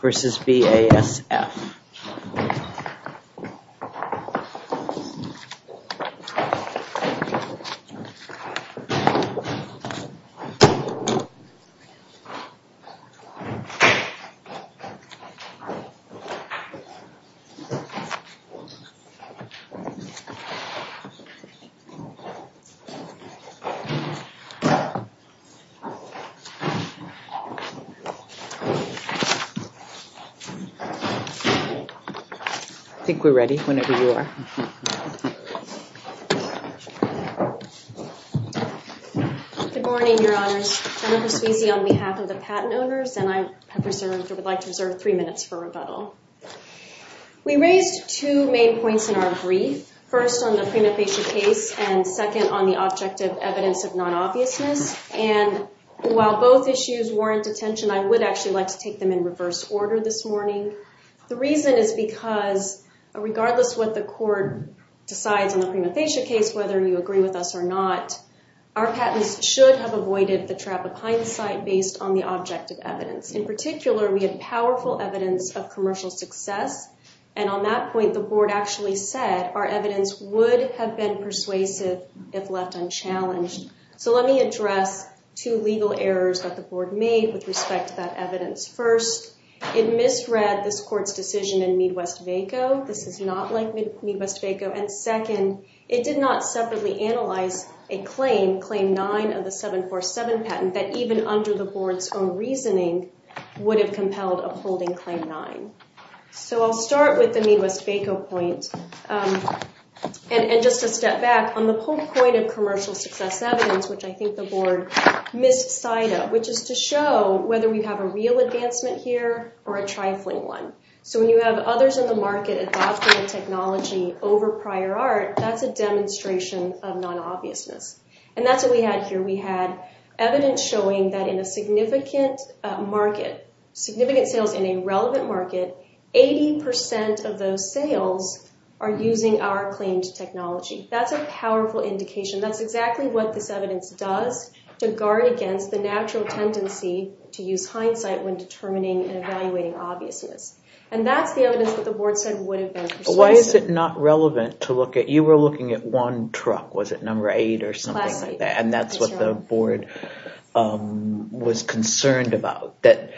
versus BASF I think we're ready whenever you are. Good morning, Your Honors. Jennifer Sweezy on behalf of the Patent Owners, and I would like to reserve three minutes for rebuttal. We raised two main points in our brief. First, on the prenatal patient case, and second, on the object of evidence of non-obviousness. And while both issues warrant attention, I would actually like to take them in reverse order this morning. The reason is because, regardless what the court decides on the prenatal patient case, whether you agree with us or not, our patents should have avoided the trap of hindsight based on the object of evidence. In particular, we had powerful evidence of commercial success, and on that point, the Board actually said our evidence would have been persuasive if left unchallenged. So let me address two legal errors that the Board made with respect to that evidence. First, it misread this Court's decision in Midwest-Vaco. This is not like Midwest-Vaco. And second, it did not separately analyze a claim, Claim 9 of the 747 patent, that even under the Board's own reasoning would have compelled upholding Claim 9. So I'll start with the Midwest-Vaco point. And just a step back, on the whole point of commercial success evidence, which I think the Board missed sight of, which is to show whether we have a real advancement here or a trifling one. So when you have others in the market adopting a technology over prior art, that's a demonstration of non-obviousness. And that's what we had here. We had evidence showing that in a significant market, significant sales in a relevant market, 80% of those sales are using our claimed technology. That's a powerful indication. That's exactly what this evidence does to guard against the natural tendency to use hindsight when determining and evaluating obviousness. And that's the evidence that the Board said would have been persuasive. Why is it not relevant to look at? You were looking at one truck. Was it number 8 or something like that? And that's what the Board was concerned about. They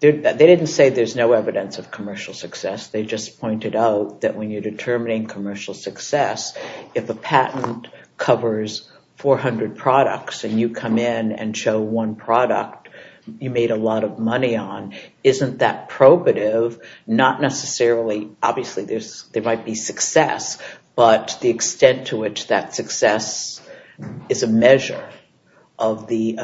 didn't say there's no evidence of commercial success. They just pointed out that when you're determining commercial success, if a patent covers 400 products and you come in and show one product you made a lot of money on, isn't that probative? Not necessarily. Obviously, there might be success, but the extent to which that success is a measure of the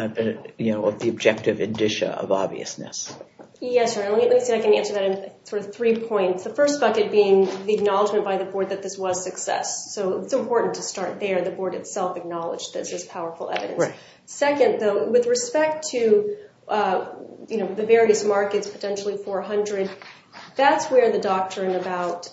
objective indicia of obviousness. Yes, let me see if I can answer that in three points. The first bucket being the acknowledgement by the Board that this was success. So it's important to start there. The Board itself acknowledged this as powerful evidence. Second, though, with respect to the various markets, potentially 400, that's where the doctrine about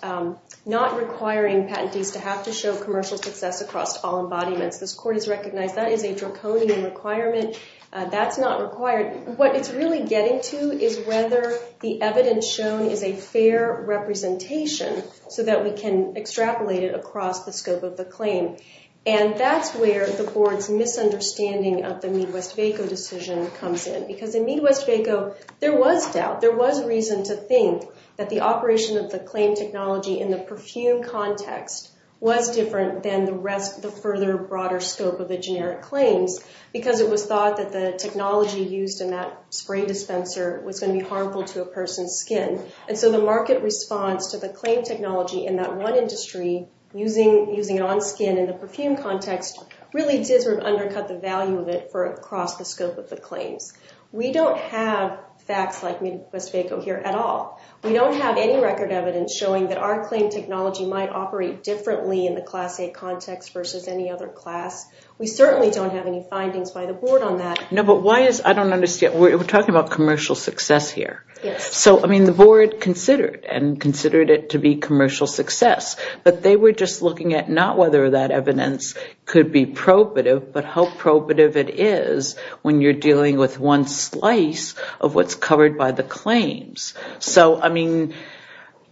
not requiring patentees to have to show commercial success across all embodiments. This Court has recognized that is a draconian requirement. That's not required. What it's really getting to is whether the evidence shown is a fair representation so that we can extrapolate it across the scope of the claim. And that's where the Board's misunderstanding of the Midwest-Vaco decision comes in. Because in Midwest-Vaco, there was doubt. There was reason to think that the operation of the claim technology in the perfume context was different than the further, broader scope of the generic claims because it was thought that the technology used in that spray dispenser was going to be harmful to a person's skin. And so the market response to the claim technology in that one industry, using it on skin in the perfume context, really did sort of undercut the value of it for across the scope of the claims. We don't have facts like Midwest-Vaco here at all. We don't have any record evidence showing that our claim technology might operate differently in the Class A context versus any other class. We certainly don't have any findings by the Board on that. No, but why is—I don't understand. We're talking about commercial success here. Yes. So, I mean, the Board considered and considered it to be commercial success, but they were just looking at not whether that evidence could be probative but how probative it is when you're dealing with one slice of what's covered by the claims. So, I mean,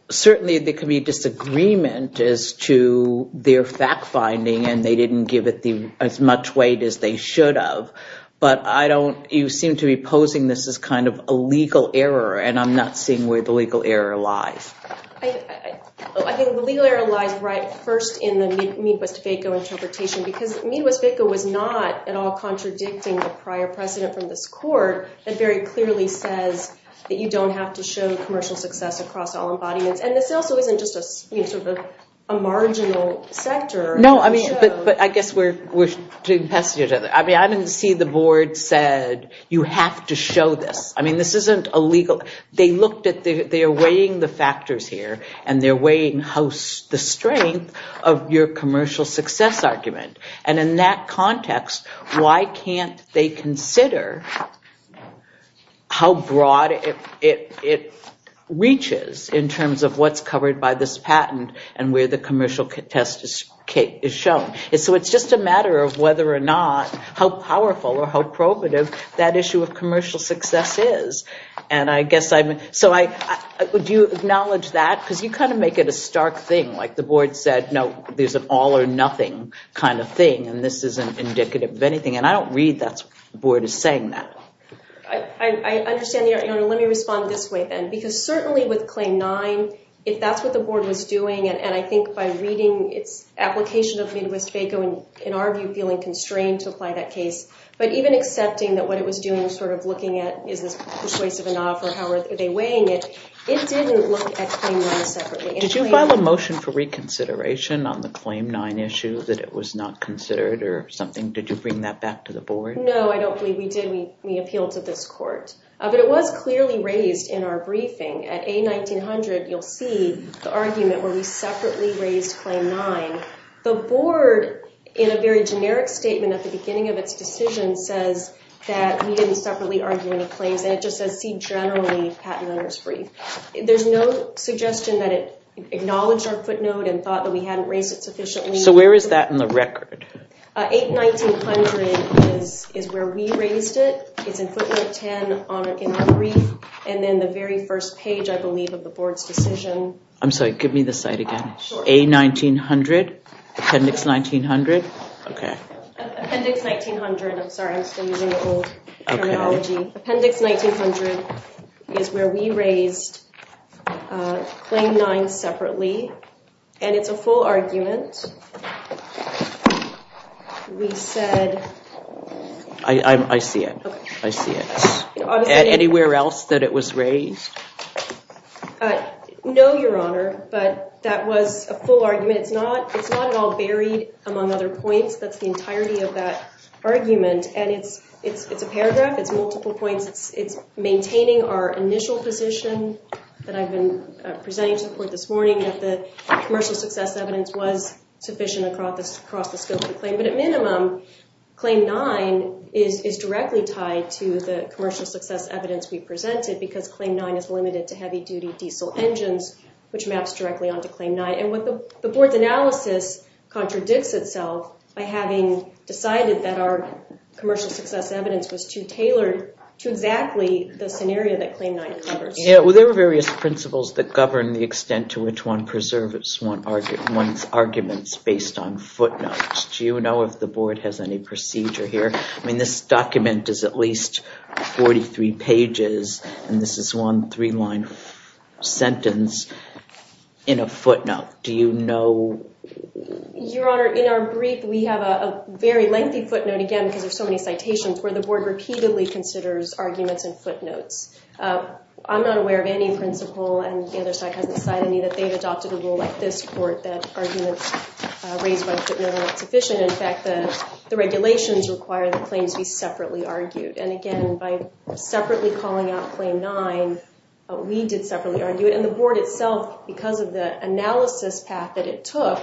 certainly there could be disagreement as to their fact-finding and they didn't give it as much weight as they should have, but I don't—you seem to be posing this as kind of a legal error and I'm not seeing where the legal error lies. I think the legal error lies right first in the Midwest-Vaco interpretation because Midwest-Vaco was not at all contradicting the prior precedent from this court. It very clearly says that you don't have to show commercial success across all embodiments. And this also isn't just sort of a marginal sector. No, I mean, but I guess we're— I mean, I didn't see the Board said, you have to show this. I mean, this isn't illegal. They looked at—they're weighing the factors here and they're weighing the strength of your commercial success argument. And in that context, why can't they consider how broad it reaches in terms of what's covered by this patent and where the commercial test is shown. So it's just a matter of whether or not, how powerful or how probative that issue of commercial success is. And I guess I'm—so I—would you acknowledge that? Because you kind of make it a stark thing. Like the Board said, no, there's an all or nothing kind of thing and this isn't indicative of anything. And I don't read that the Board is saying that. I understand, Your Honor. Let me respond this way then. Because certainly with Claim 9, if that's what the Board was doing, and I think by reading its application of Midwest-Baco, in our view, feeling constrained to apply that case, but even accepting that what it was doing was sort of looking at is this persuasive enough or how are they weighing it, it didn't look at Claim 9 separately. Did you file a motion for reconsideration on the Claim 9 issue that it was not considered or something? Did you bring that back to the Board? No, I don't believe we did. We appealed to this Court. But it was clearly raised in our briefing. At A1900, you'll see the argument where we separately raised Claim 9. The Board, in a very generic statement at the beginning of its decision, says that we didn't separately argue any claims and it just says C generally, Patent Owner's Brief. There's no suggestion that it acknowledged our footnote and thought that we hadn't raised it sufficiently. So where is that in the record? A1900 is where we raised it. It's in footnote 10 in our brief. And then the very first page, I believe, of the Board's decision. I'm sorry, give me the site again. A1900? Appendix 1900? Okay. Appendix 1900. I'm sorry, I'm still using the old terminology. Appendix 1900 is where we raised Claim 9 separately. And it's a full argument. We said... I see it. I see it. Anywhere else that it was raised? No, Your Honor, but that was a full argument. It's not at all buried among other points. That's the entirety of that argument. And it's a paragraph. It's multiple points. It's maintaining our initial position that I've been presenting to the Board this morning, that the commercial success evidence was sufficient across the scope of the claim. But at minimum, Claim 9 is directly tied to the commercial success evidence we presented because Claim 9 is limited to heavy-duty diesel engines, which maps directly onto Claim 9. And the Board's analysis contradicts itself by having decided that our commercial success evidence was too tailored to exactly the scenario that Claim 9 covers. Well, there are various principles that govern the extent to which one preserves one's arguments based on footnotes. Do you know if the Board has any procedure here? I mean, this document is at least 43 pages, and this is one three-line sentence in a footnote. Do you know...? Your Honor, in our brief, we have a very lengthy footnote, again, because there's so many citations, where the Board repeatedly considers arguments in footnotes. I'm not aware of any principle, and the other side hasn't decided any, that they've adopted a rule like this court that arguments raised by footnote are not sufficient. In fact, the regulations require that claims be separately argued. And again, by separately calling out Claim 9, we did separately argue it. And the Board itself, because of the analysis path that it took,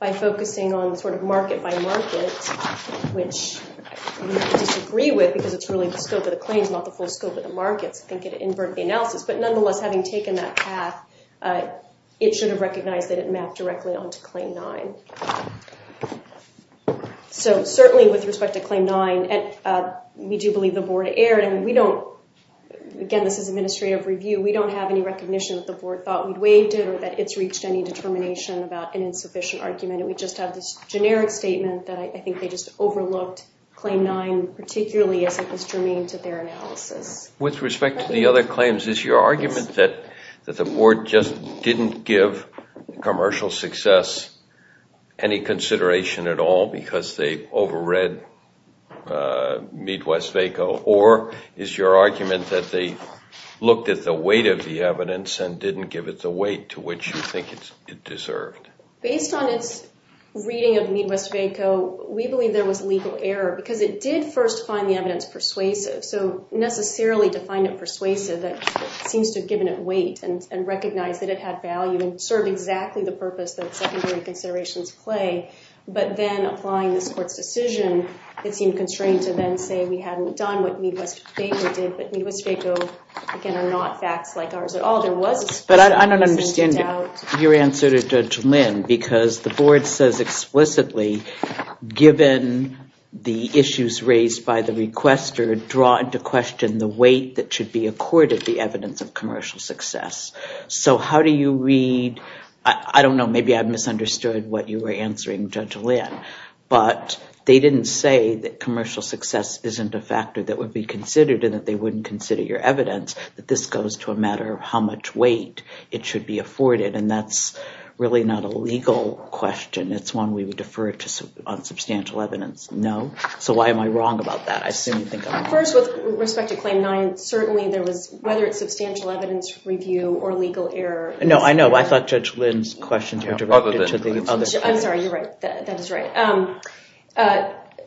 by focusing on sort of market-by-market, which we disagree with because it's really the scope of the claims, not the full scope of the markets. I think it inverted the analysis. But nonetheless, having taken that path, it should have recognized that it mapped directly onto Claim 9. So certainly, with respect to Claim 9, we do believe the Board erred, and we don't... Again, this is administrative review. We don't have any recognition that the Board thought we'd waived it or that it's reached any determination about an insufficient argument. We just have this generic statement that I think they just overlooked Claim 9, particularly as it was germane to their analysis. With respect to the other claims, is your argument that the Board just didn't give commercial success any consideration at all because they overread Midwest-Vaco? Or is your argument that they looked at the weight of the evidence and didn't give it the weight to which you think it deserved? Based on its reading of Midwest-Vaco, we believe there was legal error because it did first find the evidence persuasive. So necessarily to find it persuasive, it seems to have given it weight and recognized that it had value and served exactly the purpose that secondary considerations play. But then applying this Court's decision, it seemed constrained to then say we hadn't done what Midwest-Vaco did, but Midwest-Vaco, again, are not facts like ours at all. There was a... But I don't understand your answer to Judge Lynn because the Board says explicitly, given the issues raised by the requester, draw into question the weight that should be accorded the evidence of commercial success. So how do you read... I don't know. Maybe I've misunderstood what you were answering, Judge Lynn. But they didn't say that commercial success isn't a factor that would be considered and that they wouldn't consider your evidence, that this goes to a matter of how much weight it should be afforded. And that's really not a legal question. It's one we would defer to on substantial evidence. No? So why am I wrong about that? I assume you think I'm wrong. First, with respect to Claim 9, certainly there was, whether it's substantial evidence review or legal error... No, I know. I thought Judge Lynn's questions were directed to the other... I'm sorry. You're right. That is right.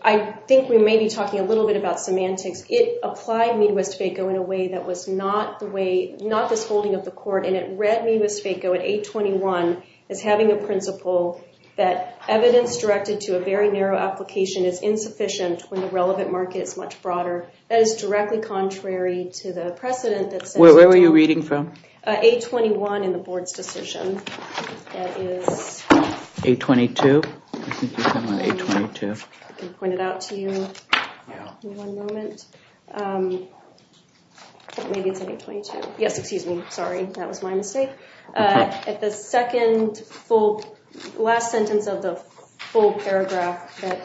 I think we may be talking a little bit about semantics. It applied Midwest-Vaco in a way that was not the way... And it read Midwest-Vaco at 821 as having a principle that evidence directed to a very narrow application is insufficient when the relevant market is much broader. That is directly contrary to the precedent that says... Where were you reading from? 821 in the Board's decision. That is... 822? I think you said 822. I can point it out to you in one moment. Maybe it's 822. Yes, excuse me. Sorry, that was my mistake. At the second full... Last sentence of the full paragraph, that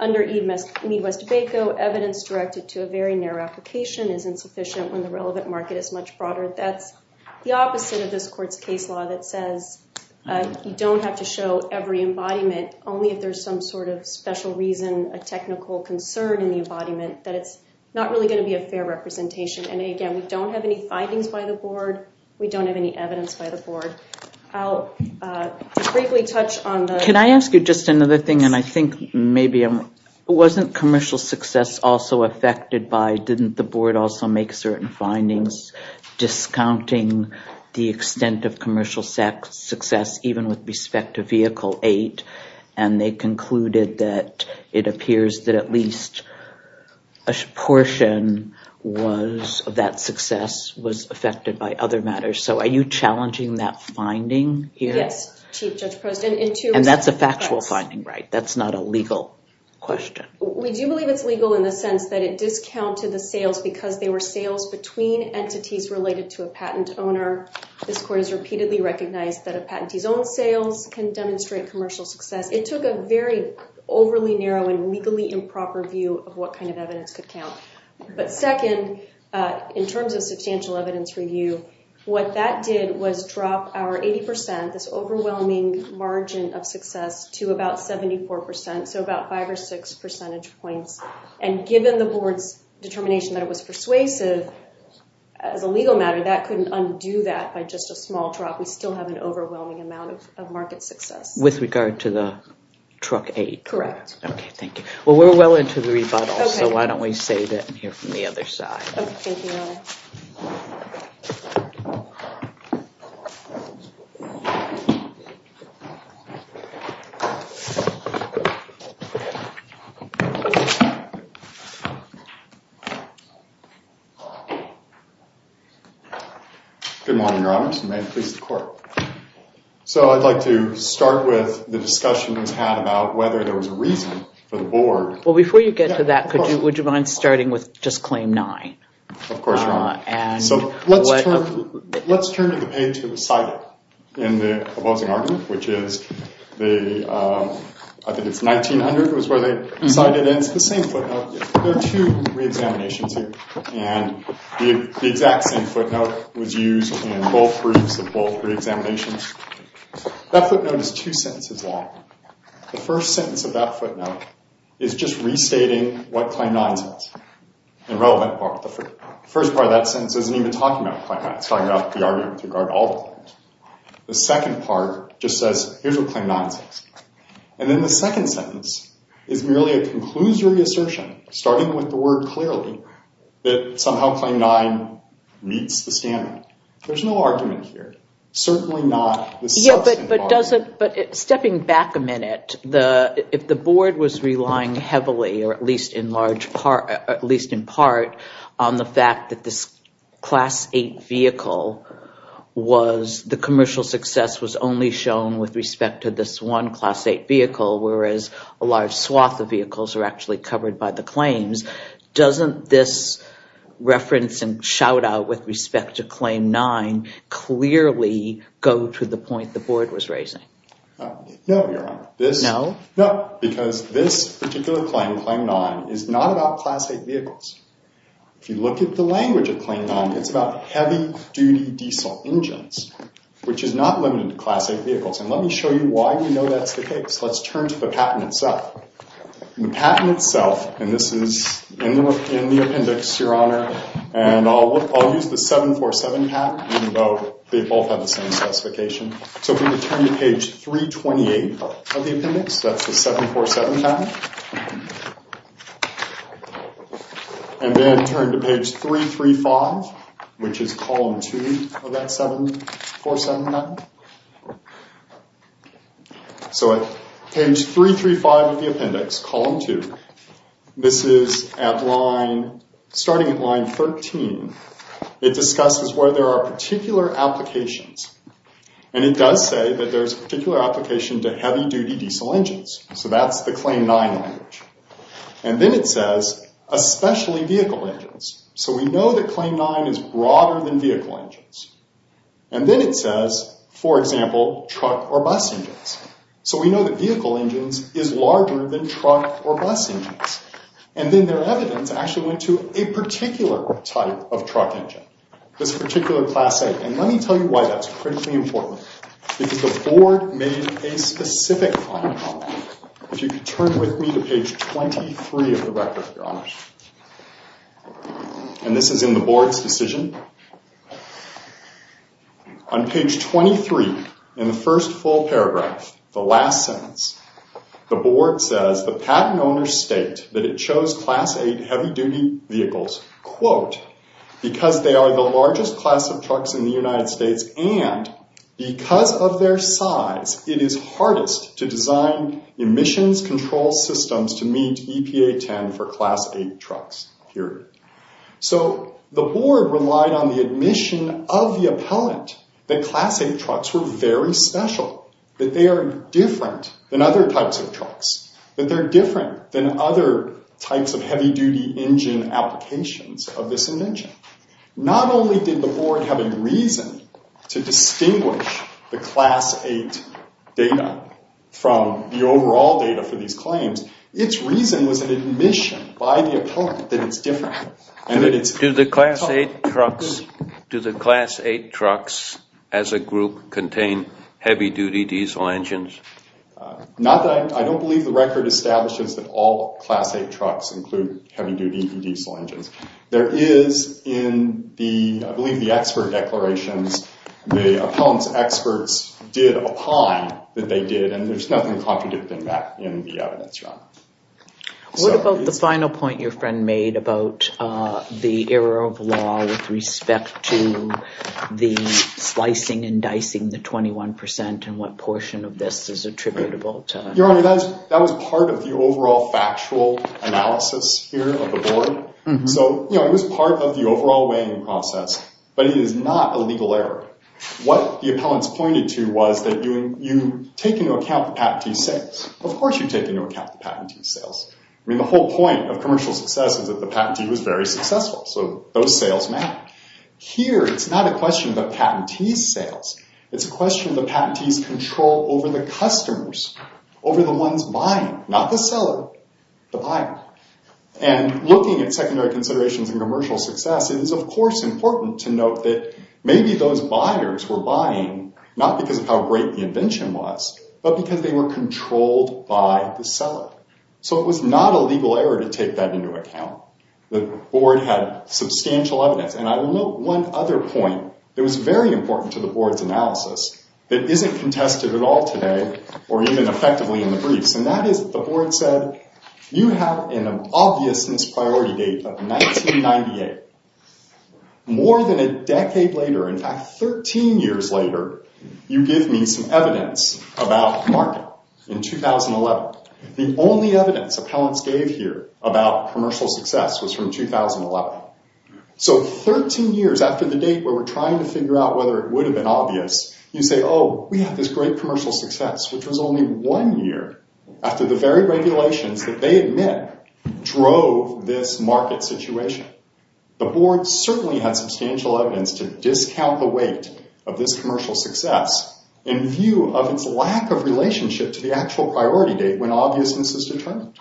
under Midwest-Vaco, evidence directed to a very narrow application is insufficient when the relevant market is much broader. That's the opposite of this court's case law that says you don't have to show every embodiment, only if there's some sort of special reason, a technical concern in the embodiment, that it's not really going to be a fair representation. Again, we don't have any findings by the Board. We don't have any evidence by the Board. I'll briefly touch on the... Can I ask you just another thing, and I think maybe... Wasn't commercial success also affected by didn't the Board also make certain findings discounting the extent of commercial success even with respect to Vehicle 8? And they concluded that it appears that at least a portion of that success was affected by other matters. So are you challenging that finding here? Yes, Chief Judge Poston. And that's a factual finding, right? That's not a legal question. We do believe it's legal in the sense that it discounted the sales because they were sales between entities related to a patent owner. This court has repeatedly recognized that a patentee's own sales can demonstrate commercial success. It took a very overly narrow and legally improper view of what kind of evidence could count. But second, in terms of substantial evidence review, what that did was drop our 80%, this overwhelming margin of success, to about 74%, so about 5 or 6 percentage points. And given the Board's determination that it was persuasive, as a legal matter, that couldn't undo that by just a small drop. We still have an overwhelming amount of market success. With regard to the truck aid? Correct. Okay, thank you. Well, we're well into the rebuttals, so why don't we save that and hear from the other side. Okay, thank you, Your Honor. Good morning, Your Honors, and may it please the Court. So I'd like to start with the discussion we've had about whether there was a reason for the Board. Well, before you get to that, would you mind starting with just Claim 9? Of course, Your Honor. So let's turn to the page that was cited in the opposing argument, which is the, I think it's 1900, it was where they cited it, and it's the same footnote. There are two reexaminations here, and the exact same footnote was used in both briefs and both reexaminations. That footnote is two sentences long. The first sentence of that footnote is just restating what Claim 9 says, the relevant part of the footnote. The first part of that sentence isn't even talking about Claim 9. It's talking about the argument with regard to all the claims. The second part just says, here's what Claim 9 says. And then the second sentence is merely a conclusory assertion, starting with the word clearly, that somehow Claim 9 meets the standard. There's no argument here. Certainly not the substantive argument. Yeah, but stepping back a minute, if the Board was relying heavily, or at least in part, on the fact that this Class 8 vehicle was, the commercial success was only shown with respect to this one Class 8 vehicle, whereas a large swath of vehicles are actually covered by the claims, doesn't this reference and shout-out with respect to Claim 9 clearly go to the point the Board was raising? No, Your Honor. No? No, because this particular claim, Claim 9, is not about Class 8 vehicles. If you look at the language of Claim 9, it's about heavy-duty diesel engines, which is not limited to Class 8 vehicles. And let me show you why we know that's the case. Let's turn to the patent itself. The patent itself, and this is in the appendix, Your Honor, and I'll use the 747 patent, even though they both have the same specification. So if we could turn to page 328 of the appendix, that's the 747 patent. And then turn to page 335, which is column 2 of that 747 patent. So page 335 of the appendix, column 2, this is starting at line 13. It discusses where there are particular applications. And it does say that there's a particular application to heavy-duty diesel engines. So that's the Claim 9 language. And then it says, especially vehicle engines. So we know that Claim 9 is broader than vehicle engines. And then it says, for example, truck or bus engines. So we know that vehicle engines is larger than truck or bus engines. And then their evidence actually went to a particular type of truck engine, this particular Class 8. And let me tell you why that's critically important. Because the board made a specific comment on that. And this is in the board's decision. On page 23, in the first full paragraph, the last sentence, the board says, the patent owners state that it chose Class 8 heavy-duty vehicles, quote, because they are the largest class of trucks in the United States, and because of their size, it is hardest to design emissions control systems to meet EPA 10 for Class 8 trucks, period. So the board relied on the admission of the appellant that Class 8 trucks were very special, that they are different than other types of trucks, that they're different than other types of heavy-duty engine applications of this engine. Not only did the board have a reason to distinguish the Class 8 data from the overall data for these claims, its reason was an admission by the appellant that it's different. Do the Class 8 trucks as a group contain heavy-duty diesel engines? I don't believe the record establishes that all Class 8 trucks include heavy-duty diesel engines. There is in the, I believe, the expert declarations, the appellant's experts did opine that they did, and there's nothing contradicting that in the evidence, Your Honor. What about the final point your friend made about the error of law with respect to the slicing and dicing the 21% and what portion of this is attributable to? Your Honor, that was part of the overall factual analysis here of the board. So, you know, it was part of the overall weighing process, but it is not a legal error. What the appellants pointed to was that you take into account the patentee's sales. Of course you take into account the patentee's sales. I mean, the whole point of commercial success is that the patentee was very successful, so those sales matter. Here, it's not a question of the patentee's sales. It's a question of the patentee's control over the customers, over the ones buying, not the seller, the buyer. And looking at secondary considerations in commercial success, it is, of course, important to note that maybe those buyers were buying not because of how great the invention was, but because they were controlled by the seller. So it was not a legal error to take that into account. The board had substantial evidence. And I will note one other point that was very important to the board's analysis that isn't contested at all today or even effectively in the briefs, and that is the board said, you have an obviousness priority date of 1998. More than a decade later, in fact, 13 years later, you give me some evidence about the market in 2011. The only evidence appellants gave here about commercial success was from 2011. So 13 years after the date where we're trying to figure out whether it would have been obvious, you say, oh, we have this great commercial success, which was only one year after the very regulations that they admit drove this market situation. The board certainly had substantial evidence to discount the weight of this commercial success in view of its lack of relationship to the actual priority date when obviousness is determined.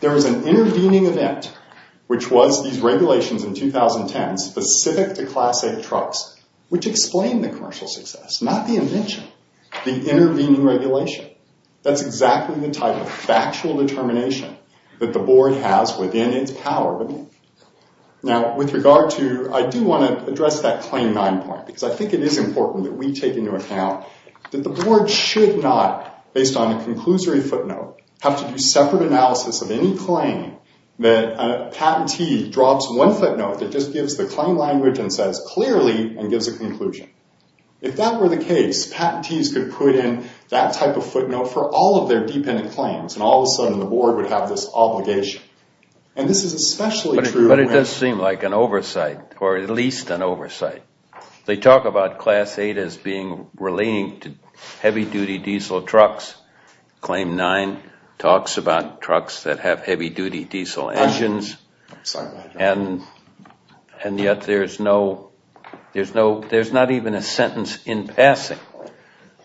There was an intervening event, which was these regulations in 2010 specific to Class A trucks, which explained the commercial success, not the invention, the intervening regulation. That's exactly the type of factual determination that the board has within its power to make. Now, with regard to, I do want to address that claim nine point because I think it is important that we take into account that the board should not, based on a conclusory footnote, have to do separate analysis of any claim that a patentee drops one footnote that just gives the claim language and says clearly and gives a conclusion. If that were the case, patentees could put in that type of footnote for all of their dependent claims, and all of a sudden the board would have this obligation. And this is especially true when- But it does seem like an oversight, or at least an oversight. They talk about Class A as being relating to heavy-duty diesel trucks. Claim nine talks about trucks that have heavy-duty diesel engines. And yet there's not even a sentence in passing.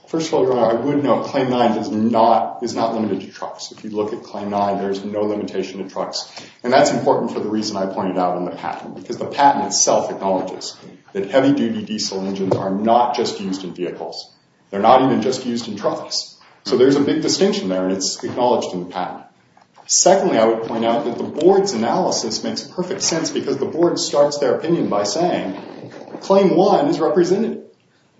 First of all, I would note claim nine is not limited to trucks. If you look at claim nine, there's no limitation to trucks. And that's important for the reason I pointed out in the patent because the patent itself acknowledges that heavy-duty diesel engines are not just used in vehicles. They're not even just used in trucks. So there's a big distinction there, and it's acknowledged in the patent. Secondly, I would point out that the board's analysis makes perfect sense because the board starts their opinion by saying claim one is represented.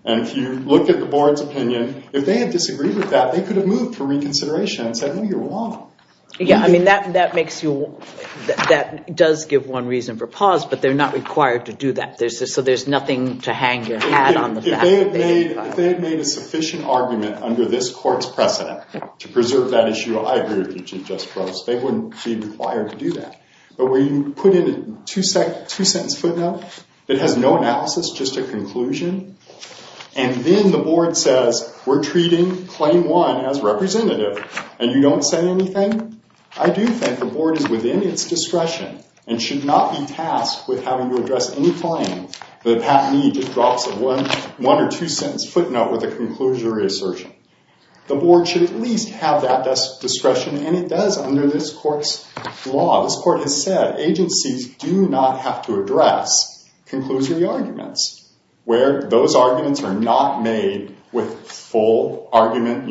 And if you look at the board's opinion, if they had disagreed with that, they could have moved for reconsideration and said, no, you're wrong. Yeah, I mean, that does give one reason for pause, but they're not required to do that. So there's nothing to hang your hat on. If they had made a sufficient argument under this court's precedent to preserve that issue, I agree with you, Chief Justice Brooks. They wouldn't be required to do that. But when you put in a two-sentence footnote that has no analysis, just a conclusion, and then the board says, we're treating claim one as representative, and you don't say anything, I do think the board is within its discretion and should not be tasked with having to address any claims where the patentee just drops a one- or two-sentence footnote with a conclusionary assertion. The board should at least have that discretion, and it does under this court's law. This court has said agencies do not have to address conclusory arguments where those arguments are not made with a full argument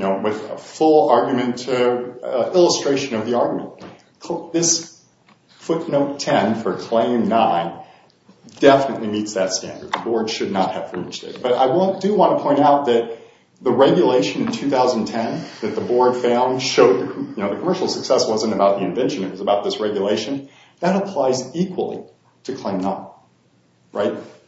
illustration of the argument. This footnote 10 for claim nine definitely meets that standard. The board should not have to reach there. But I do want to point out that the regulation in 2010 that the board found showed the commercial success wasn't about the invention. It was about this regulation. That applies equally to claim nine.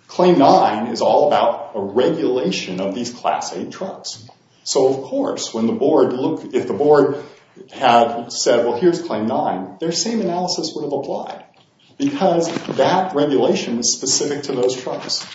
Claim nine is all about a regulation of these class A drugs. So, of course, if the board had said, well, here's claim nine, their same analysis would have applied because that regulation was specific to those drugs.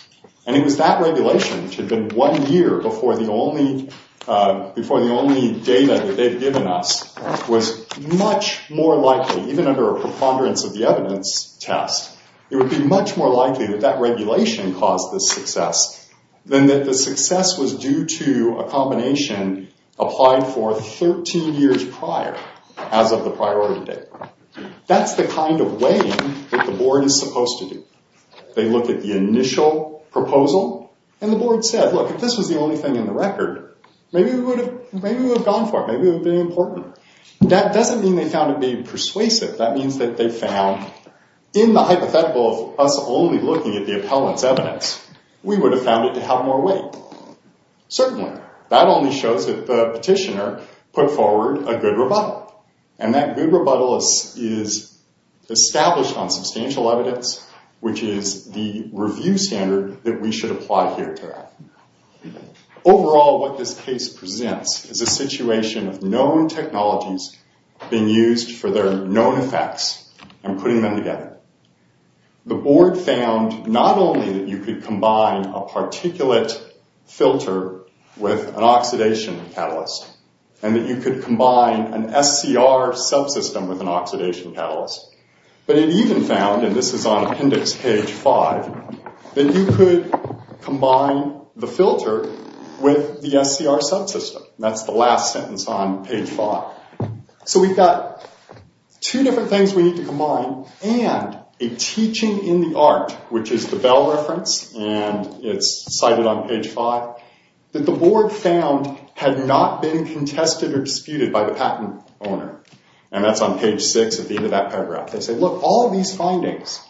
And it was that regulation, which had been one year before the only data that they had given us, was much more likely, even under a preponderance of the evidence test, it would be much more likely that that regulation caused this success than that the success was due to a combination applied for 13 years prior as of the priority date. That's the kind of weighing that the board is supposed to do. They look at the initial proposal. And the board said, look, if this was the only thing in the record, maybe we would have gone for it. Maybe it would have been important. That doesn't mean they found it being persuasive. That means that they found in the hypothetical of us only looking at the appellant's evidence, we would have found it to have more weight. Certainly. That only shows that the petitioner put forward a good rebuttal. And that good rebuttal is established on substantial evidence, which is the review standard that we should apply here today. Overall, what this case presents is a situation of known technologies being used for their known effects and putting them together. The board found not only that you could combine a particulate filter with an oxidation catalyst and that you could combine an SCR subsystem with an oxidation catalyst, but it even found, and this is on appendix page 5, that you could combine the filter with the SCR subsystem. That's the last sentence on page 5. So we've got two different things we need to combine and a teaching in the art, which is the Bell reference, and it's cited on page 5, that the board found had not been contested or disputed by the patent owner. And that's on page 6 at the end of that paragraph. They say, look, all of these findings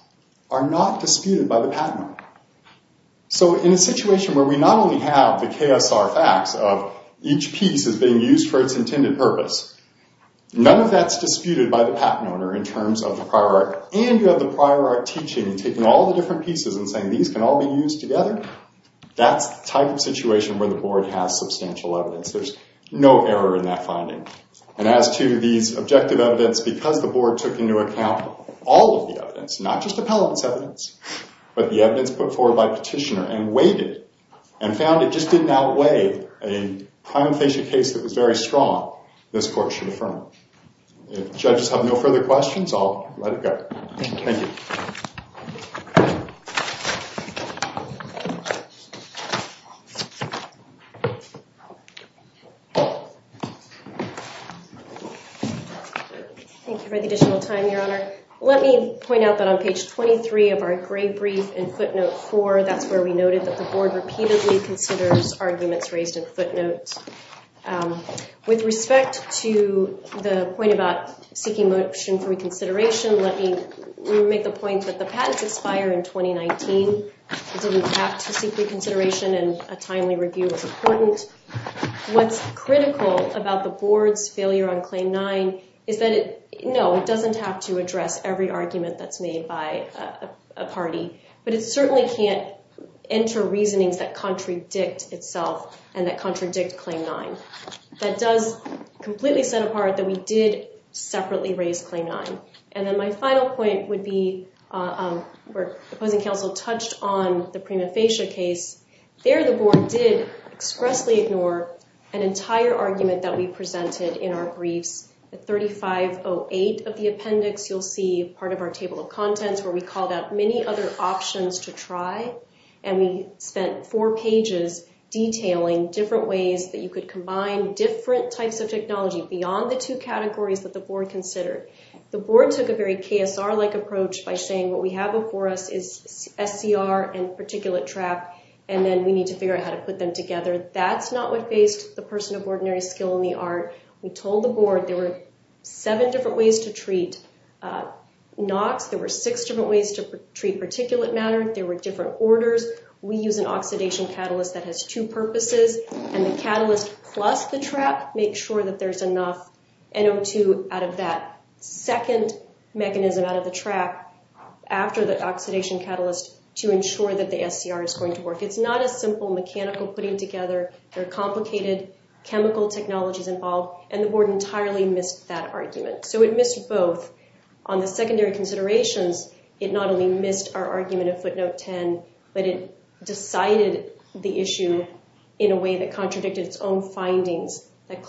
are not disputed by the patent owner. So in a situation where we not only have the KSR facts of each piece is being used for its intended purpose, none of that's disputed by the patent owner in terms of the prior art, and you have the prior art teaching and taking all the different pieces and saying these can all be used together, that's the type of situation where the board has substantial evidence. There's no error in that finding. And as to these objective evidence, because the board took into account all of the evidence, not just appellate's evidence, but the evidence put forward by petitioner and weighted and found it just didn't outweigh a primothasia case that was very strong, this court should affirm it. If judges have no further questions, I'll let it go. Thank you. Thank you for the additional time, Your Honor. Let me point out that on page 23 of our gray brief in footnote 4, that's where we noted that the board repeatedly considers arguments raised in footnotes. With respect to the point about seeking motion for reconsideration, let me make the point that the patents expire in 2019. It didn't have to seek reconsideration, and a timely review was important. What's critical about the board's failure on Claim 9 is that, no, it doesn't have to address every argument that's made by a party, but it certainly can't enter reasonings that contradict itself and that contradict Claim 9. That does completely set apart that we did separately raise Claim 9. And then my final point would be where opposing counsel touched on the primothasia case. There, the board did expressly ignore an entire argument that we presented in our briefs. At 3508 of the appendix, you'll see part of our table of contents where we called out many other options to try, and we spent four pages detailing different ways that you could combine different types of technology beyond the two categories that the board considered. The board took a very KSR-like approach by saying, what we have before us is SCR and particulate trap, and then we need to figure out how to put them together. That's not what faced the person of ordinary skill in the art. We told the board there were seven different ways to treat NOx. There were six different ways to treat particulate matter. There were different orders. We use an oxidation catalyst that has two purposes, and the catalyst plus the trap makes sure that there's enough NO2 out of that second mechanism out of the trap after the oxidation catalyst to ensure that the SCR is going to work. It's not a simple mechanical putting together. There are complicated chemical technologies involved, and the board entirely missed that argument. So it missed both. On the secondary considerations, it not only missed our argument of footnote 10, but it decided the issue in a way that contradicted its own findings that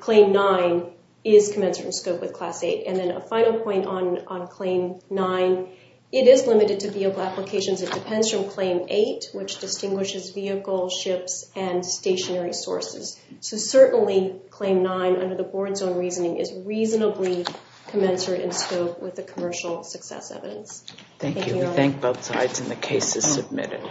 Claim 9 is commensurate in scope with Class 8. And then a final point on Claim 9, it is limited to vehicle applications. It depends from Claim 8, which distinguishes vehicle, ships, and stationary sources. So certainly Claim 9, under the board's own reasoning, is reasonably commensurate in scope with the commercial success evidence. Thank you. We thank both sides, and the case is submitted.